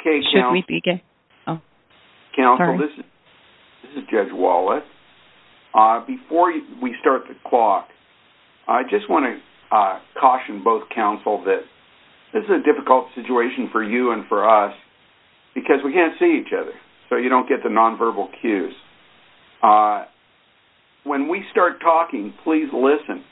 Okay counsel, this is Judge Wallace. Before we start the clock, I just want to caution both counsel that this is a difficult situation for you and for us because we can't see each other so you don't get the nonverbal cues. When we start talking, please listen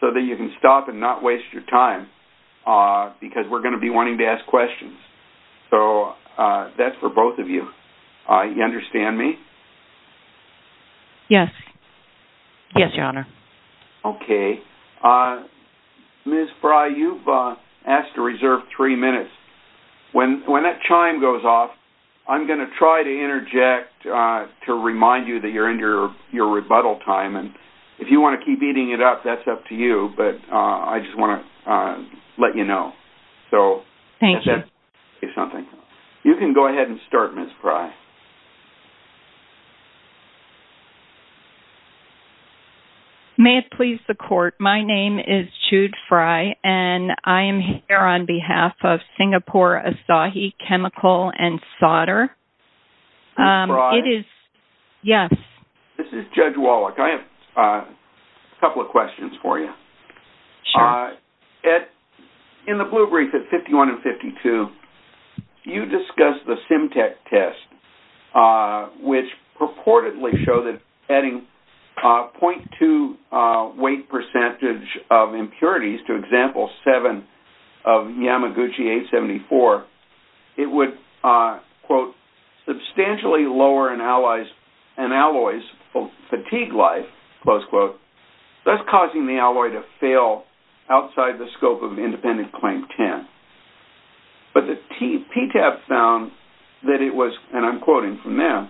so that you can stop and not waste your time because we're going to be wanting to ask questions. So that's for both of you. You understand me? Yes. Yes, your honor. Okay. Ms. Frey, you've asked to reserve three minutes. When that chime goes off, I'm going to try to interject to remind you that you're in your rebuttal time and if you want to keep eating it up, that's up to you but I just want to let you know. So thank you. You can go ahead and start Ms. Frey. May it please the court. My name is Jude Frey and I am here on behalf of Singapore Asahi Chemical and Solder. Ms. Frey? Yes. This is Judge Wallace. I have a couple of questions for you. Sure. In the blue brief at 51 and 52, you discussed the SymTech test which purportedly showed that adding 0.2 weight percentage of impurities to example 7 of Yamaguchi 874, it would quote a fail outside the scope of independent claim 10. But the PTAP found that it was, and I'm quoting from there,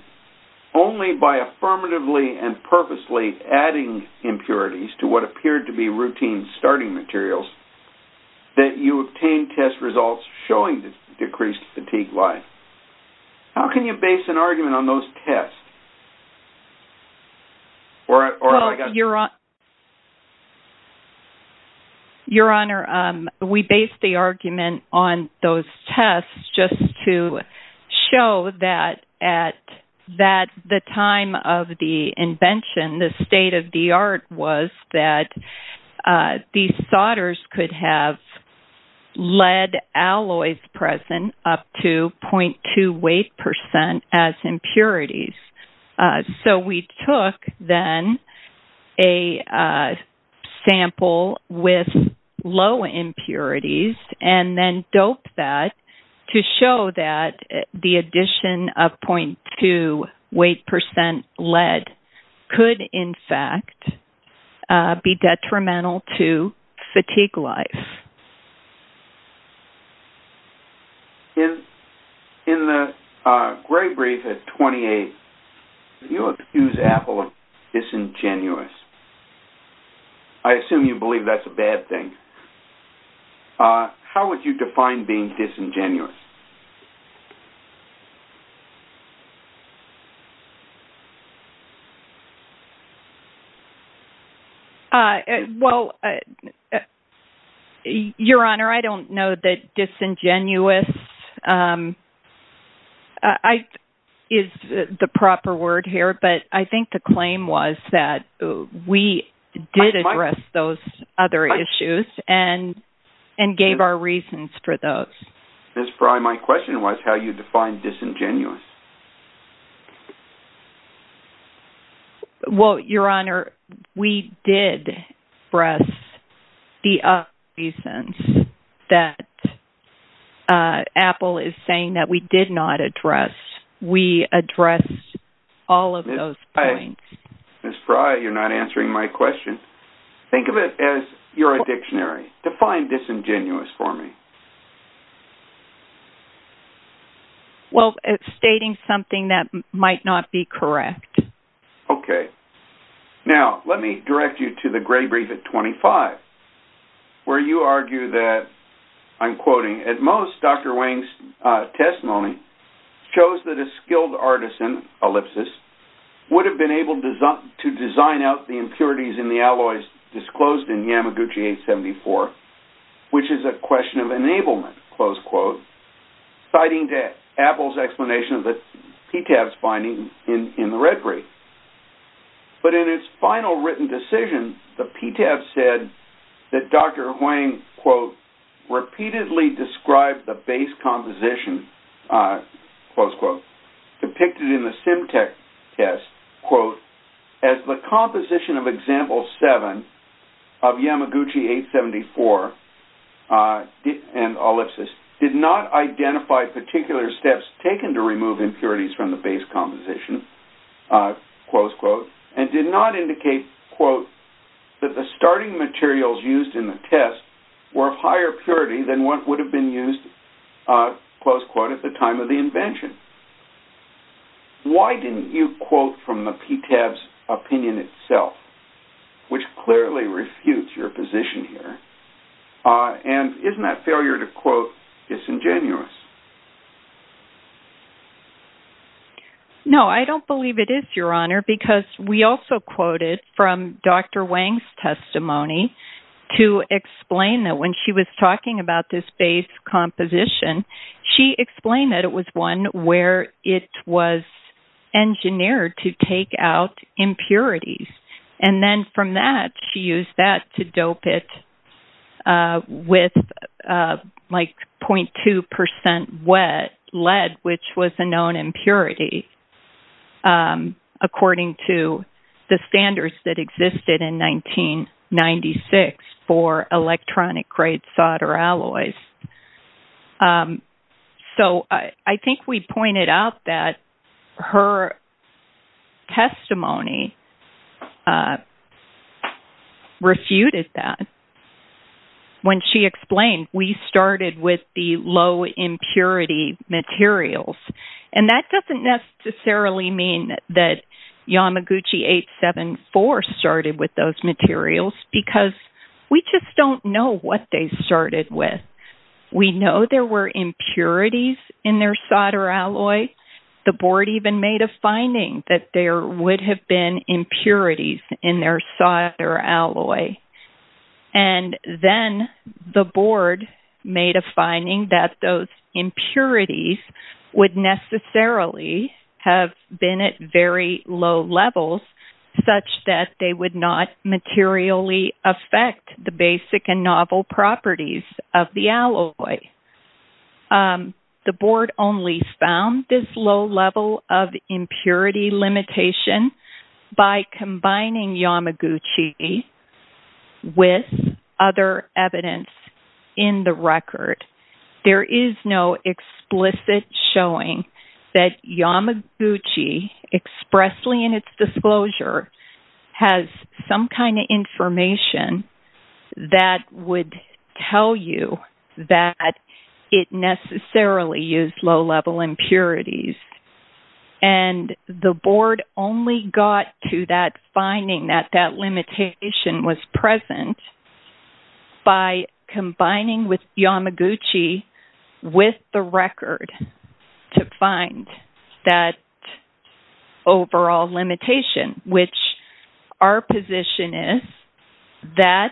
only by affirmatively and purposely adding impurities to what appeared to be routine starting materials that you obtained test results showing decreased fatigue life. How can you base an argument on those tests? Your Honor, we based the argument on those tests just to show that at the time of the invention, the state of the art was that these solders could have lead alloys present up to 0.2 weight percent as impurities. So we took then a sample with low impurities and then doped that to show that the addition of 0.2 weight percent lead could, in fact, be detrimental to fatigue life. In the gray brief at 28, you accused Apple of disingenuous. I assume you believe that's a bad thing. How would you define being disingenuous? Well, Your Honor, I don't know that disingenuous is the proper word here, but I think the claim was that we did address those other issues and gave our reasons for those. Ms. Prye, my question was how you define disingenuous. Well, Your Honor, we did address the other reasons that Apple is saying that we did not address. We addressed all of those points. Ms. Prye, you're not answering my question. Think of it as you're a dictionary. Define disingenuous for me. Well, it's stating something that might not be correct. Okay. Now, let me direct you to the gray brief at 25, where you argue that, I'm quoting, at most, Dr. Wang's testimony shows that a skilled artisan, ellipsis, would have been able to design out the impurities in the alloys disclosed in Yamaguchi 874, which is a question of enablement, citing Apple's explanation of the PTAF's finding in the red brief. But in its final written decision, the PTAF said that Dr. Wang, quote, repeatedly described the base composition, close quote, depicted in the SimTech test, quote, as the composition of example seven of Yamaguchi 874, and ellipsis, did not identify particular steps taken to remove impurities from the base composition, close quote, and did not indicate, quote, that the starting materials used in the test were of higher purity than what would have been used, close quote, at the time of the invention. Why didn't you quote from the PTAF's opinion itself, which clearly refutes your position here? And isn't that failure to quote disingenuous? No, I don't believe it is, Your Honor, because we also quoted from Dr. Wang's testimony to explain that when she was talking about this base composition, she explained that it was one where it was engineered to take out impurities. And then from that, she used that to dope it with, like, 0.2% lead, which was a known impurity, according to the standards that existed in 1996 for electronic-grade solder alloys. So I think we pointed out that her testimony refuted that. When she explained, we started with the low-impurity materials. And that doesn't necessarily mean that Yamaguchi 874 started with those materials, because we just don't know what they started with. We know there were impurities in their solder alloy. The board even made a finding that there would have been impurities in their solder alloy. And then the board made a finding that those impurities would necessarily have been at very low levels, such that they would not materially affect the basic and novel properties of the alloy. The board only found this low level of impurity limitation by combining Yamaguchi with other evidence in the record. There is no explicit showing that Yamaguchi, expressly in its disclosure, has some kind of information that would tell you that it necessarily used low-level impurities. And the board only got to that finding that that limitation was present by combining Yamaguchi with the record to find that overall limitation, which our position is that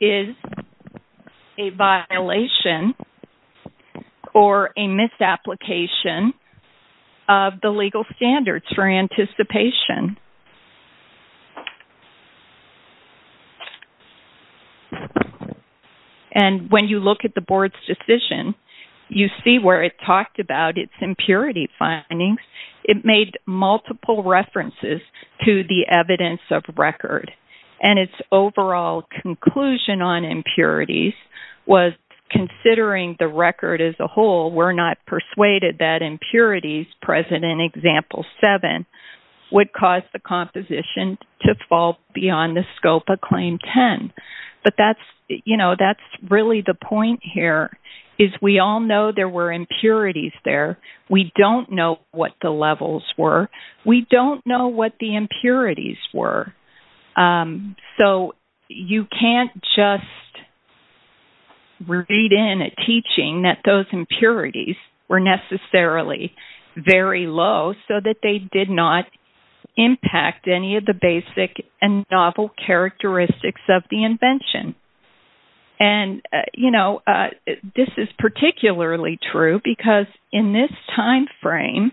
is a violation or a misapplication of the legal standards for anticipation. And when you look at the board's decision, you see where it talked about its impurity findings. It made multiple references to the evidence of record. And its overall conclusion on impurities was, considering the record as a whole, we're not going to cause the composition to fall beyond the scope of Claim 10. But that's really the point here, is we all know there were impurities there. We don't know what the levels were. We don't know what the impurities were. So you can't just read in a teaching that those impurities were necessarily very low, just so that they did not impact any of the basic and novel characteristics of the invention. And this is particularly true, because in this time frame,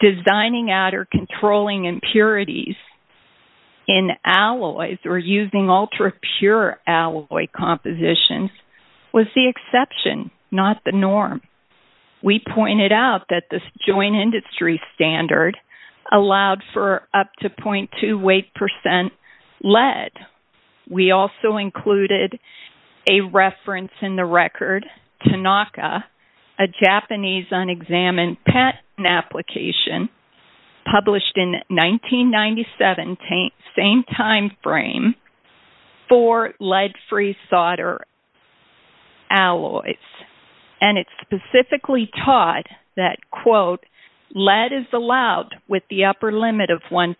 designing out or controlling impurities in alloys or using ultra-pure alloy compositions was the exception, not the norm. We pointed out that this joint industry standard allowed for up to 0.2 weight percent lead. We also included a reference in the record, Tanaka, a Japanese unexamined patent application published in 1997, same time frame, for lead-free solder alloys. And it specifically taught that, quote, lead is allowed with the upper limit of 1%.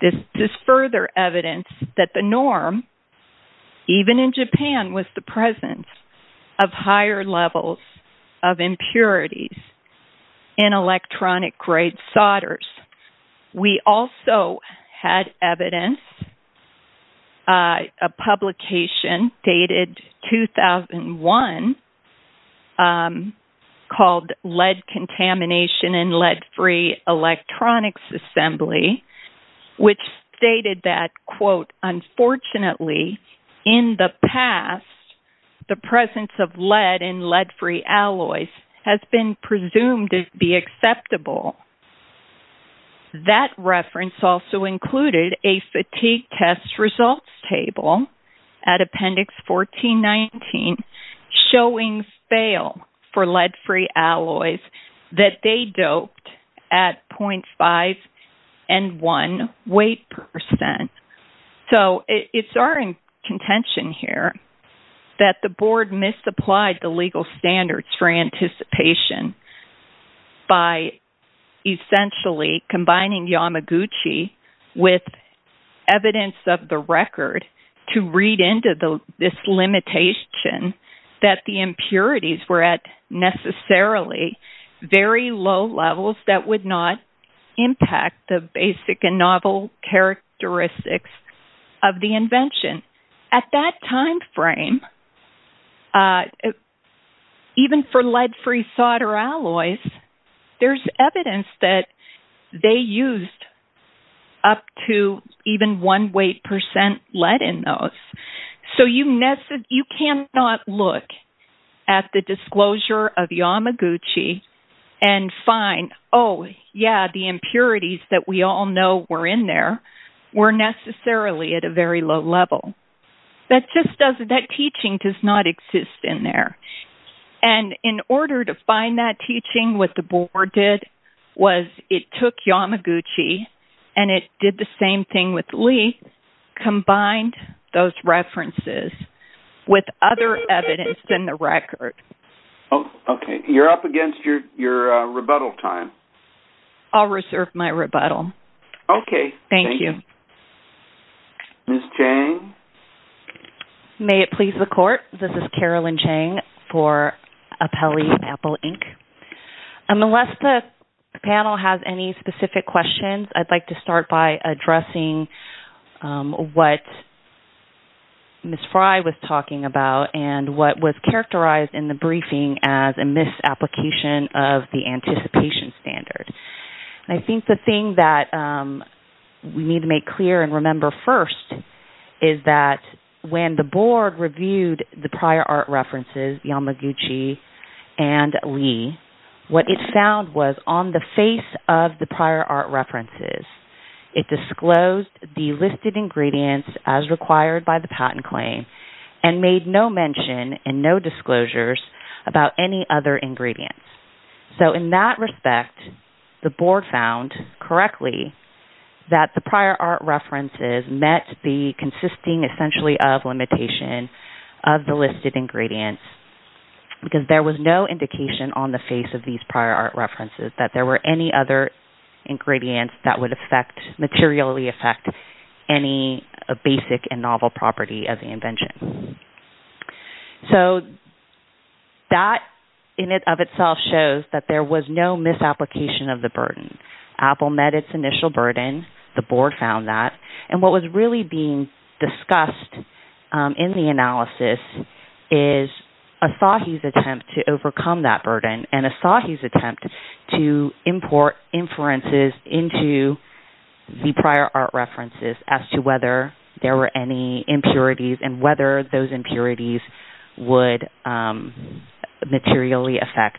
This is further evidence that the norm, even in Japan, was the presence of higher levels of impurities in electronic-grade solders. We also had evidence, a publication dated 2001, called Lead Contamination in Lead-Free Electronics Assembly, which stated that, quote, unfortunately, in the past, the presence of That reference also included a fatigue test results table at Appendix 1419 showing fail for lead-free alloys that they doped at 0.5 and 1 weight percent. So it's our contention here that the board misapplied the legal standards for anticipation by essentially combining Yamaguchi with evidence of the record to read into this limitation that the impurities were at necessarily very low levels that would not impact the basic and novel characteristics of the invention. At that time frame, even for lead-free solder alloys, there's evidence that they used up to even 1 weight percent lead in those. So you cannot look at the disclosure of Yamaguchi and find, oh, yeah, the impurities that we all know were in there were necessarily at a very low level. That just doesn't... That teaching does not exist in there. And in order to find that teaching, what the board did was it took Yamaguchi and it did the same thing with lead, combined those references with other evidence in the record. Oh, okay. You're up against your rebuttal time. I'll reserve my rebuttal. Okay. Thank you. Ms. Chang? May it please the court, this is Carolyn Chang for Apelli Apple Inc. Unless the panel has any specific questions, I'd like to start by addressing what Ms. Fry was talking about and what was characterized in the briefing as a misapplication of the participation standard. And I think the thing that we need to make clear and remember first is that when the board reviewed the prior art references, Yamaguchi and Lee, what it found was on the face of the prior art references, it disclosed the listed ingredients as required by the patent claim and made no mention and no disclosures about any other ingredients. So in that respect, the board found correctly that the prior art references met the consisting essentially of limitation of the listed ingredients because there was no indication on the face of these prior art references that there were any other ingredients that would affect, materially affect any basic and novel property of the invention. So that in and of itself shows that there was no misapplication of the burden. Apple met its initial burden, the board found that, and what was really being discussed in the analysis is Asahi's attempt to overcome that burden and Asahi's attempt to import inferences into the prior art references as to whether there were any impurities and whether those impurities would materially affect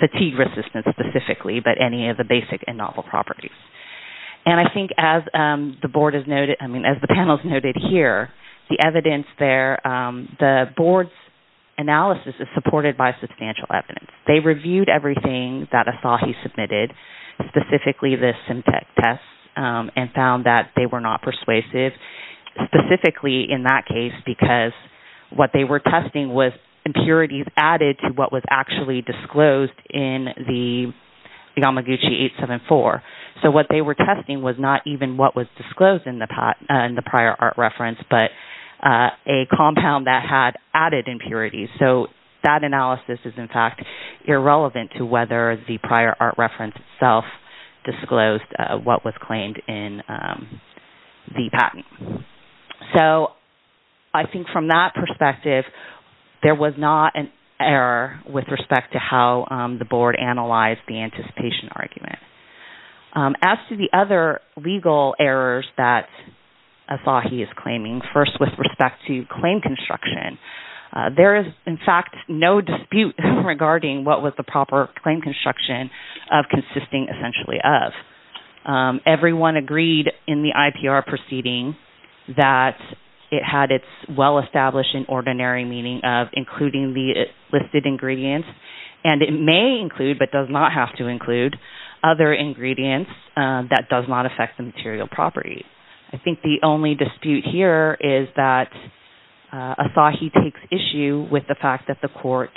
fatigue resistance specifically, but any of the basic and novel properties. And I think as the board has noted, I mean, as the panel has noted here, the evidence there, the board's analysis is supported by substantial evidence. They reviewed everything that Asahi submitted, specifically the SimTech test and found that they were not persuasive, specifically in that case, because what they were testing was impurities added to what was actually disclosed in the Yamaguchi 874. So what they were testing was not even what was disclosed in the prior art reference, but a compound that had added impurities. So that analysis is in fact irrelevant to whether the prior art reference itself disclosed what was claimed in the patent. So I think from that perspective, there was not an error with respect to how the board analyzed the anticipation argument. As to the other legal errors that Asahi is claiming, first with respect to claim construction, there is in fact no dispute regarding what was the proper claim construction of consisting essentially of. Everyone agreed in the IPR proceeding that it had its well-established and ordinary meaning of including the listed ingredients, and it may include but does not have to include other ingredients that does not affect the material property. I think the only dispute here is that Asahi takes issue with the fact that the court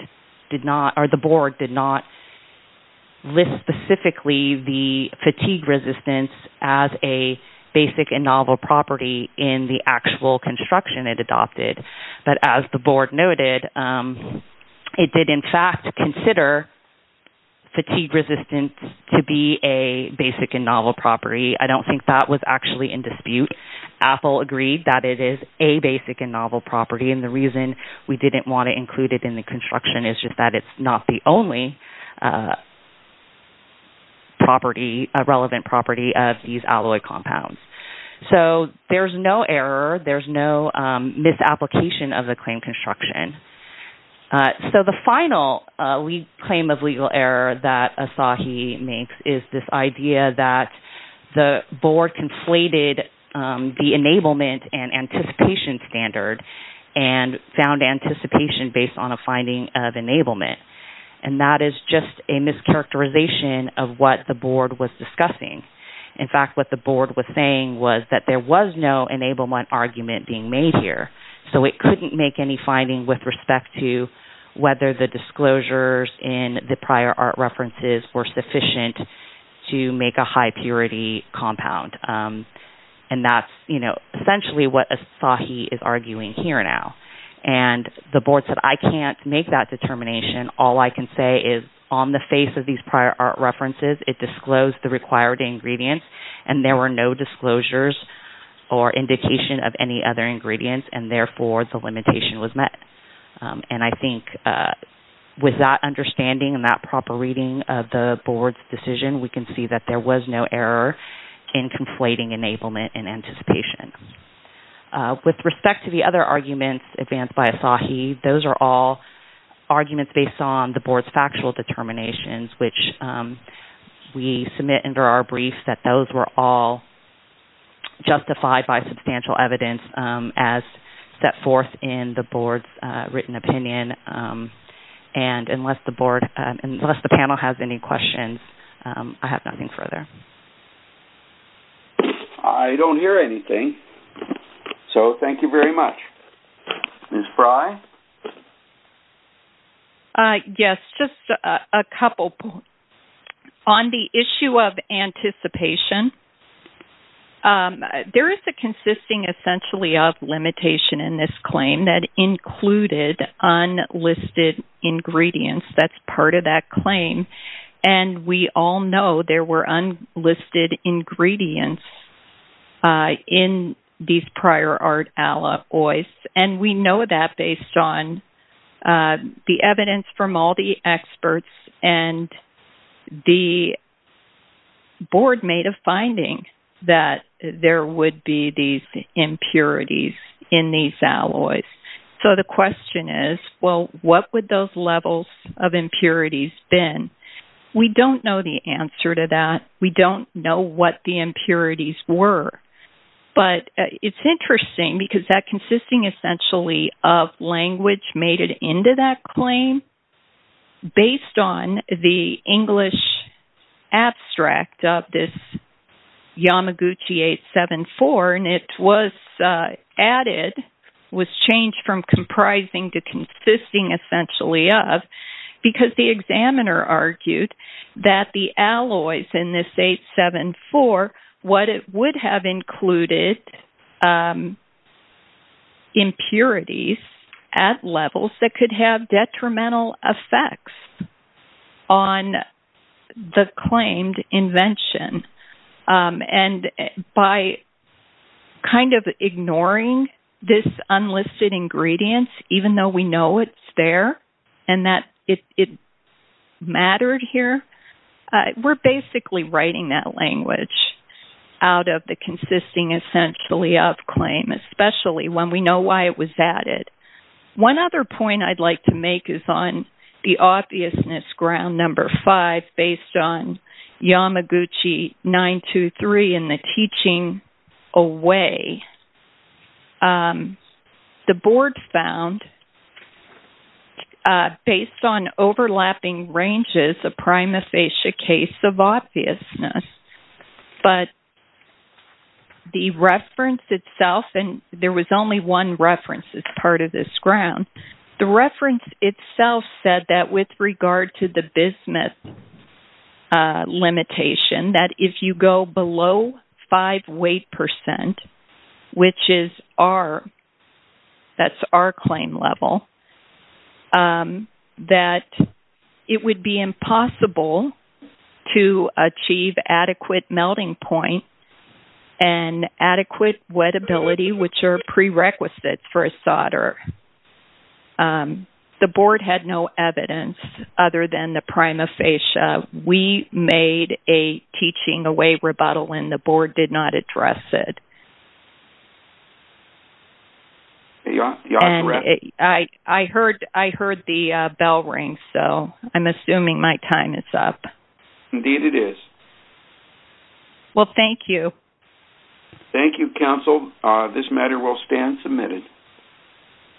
did not list specifically the fatigue resistance as a basic and novel property in the actual construction it adopted. But as the board noted, it did in fact consider fatigue resistance to be a basic and novel property. I don't think that was actually in dispute. Apple agreed that it is a basic and novel property, and the reason we didn't want to include a relevant property of these alloy compounds. So there is no error, there is no misapplication of the claim construction. So the final claim of legal error that Asahi makes is this idea that the board conflated the enablement and anticipation standard and found anticipation based on a finding of enablement, and that is just a mischaracterization of what the board was discussing. In fact, what the board was saying was that there was no enablement argument being made here, so it couldn't make any finding with respect to whether the disclosures in the prior art references were sufficient to make a high purity compound. And that's, you know, essentially what Asahi is arguing here now. And the board said, I can't make that determination, all I can say is on the face of these prior art references, it disclosed the required ingredients, and there were no disclosures or indication of any other ingredients, and therefore the limitation was met. And I think with that understanding and that proper reading of the board's decision, we can see that there was no error in conflating enablement and anticipation. With respect to the other arguments advanced by Asahi, those are all arguments based on the board's factual determinations, which we submit under our brief that those were all justified by substantial evidence as set forth in the board's written opinion. And unless the panel has any questions, I have nothing further. I don't hear anything, so thank you very much. Ms. Frey? Yes, just a couple points. On the issue of anticipation, there is a consisting essentially of limitation in this claim that included unlisted ingredients, that's part of that claim, and we all know there were unlisted ingredients in these prior art alloys, and we know that based on the evidence from all the experts, and the board made a finding that there would be these impurities in these alloys. So the question is, well, what would those levels of impurities been? We don't know the answer to that. We don't know what the impurities were. But it's interesting because that consisting essentially of language made it into that claim based on the English abstract of this Yamaguchi 874, and it was added, was changed from comprising to consisting essentially of, because the examiner argued that the alloys in this 874, what it would have included impurities at levels that could have detrimental effects on the claimed invention. And by kind of ignoring this unlisted ingredients, even though we know it's there, and that it mattered here, we're basically writing that language out of the consisting essentially of claim, especially when we know why it was added. One other point I'd like to make is on the obviousness ground number five based on Yamaguchi 923 in the teaching away, the board found based on overlapping ranges, a prima facie case of obviousness. But the reference itself, and there was only one reference as part of this ground. The reference itself said that with regard to the business limitation, that if you go below five weight percent, which is R, that's R claim level, that it would be impossible to achieve adequate melting point and adequate wettability, which are prerequisites for a teaching away. The board had no evidence other than the prima facie. We made a teaching away rebuttal and the board did not address it. And I heard the bell ring, so I'm assuming my time is up. Indeed it is. Well, thank you. Thank you. Thank you. Thank you. Thank you. Thank you.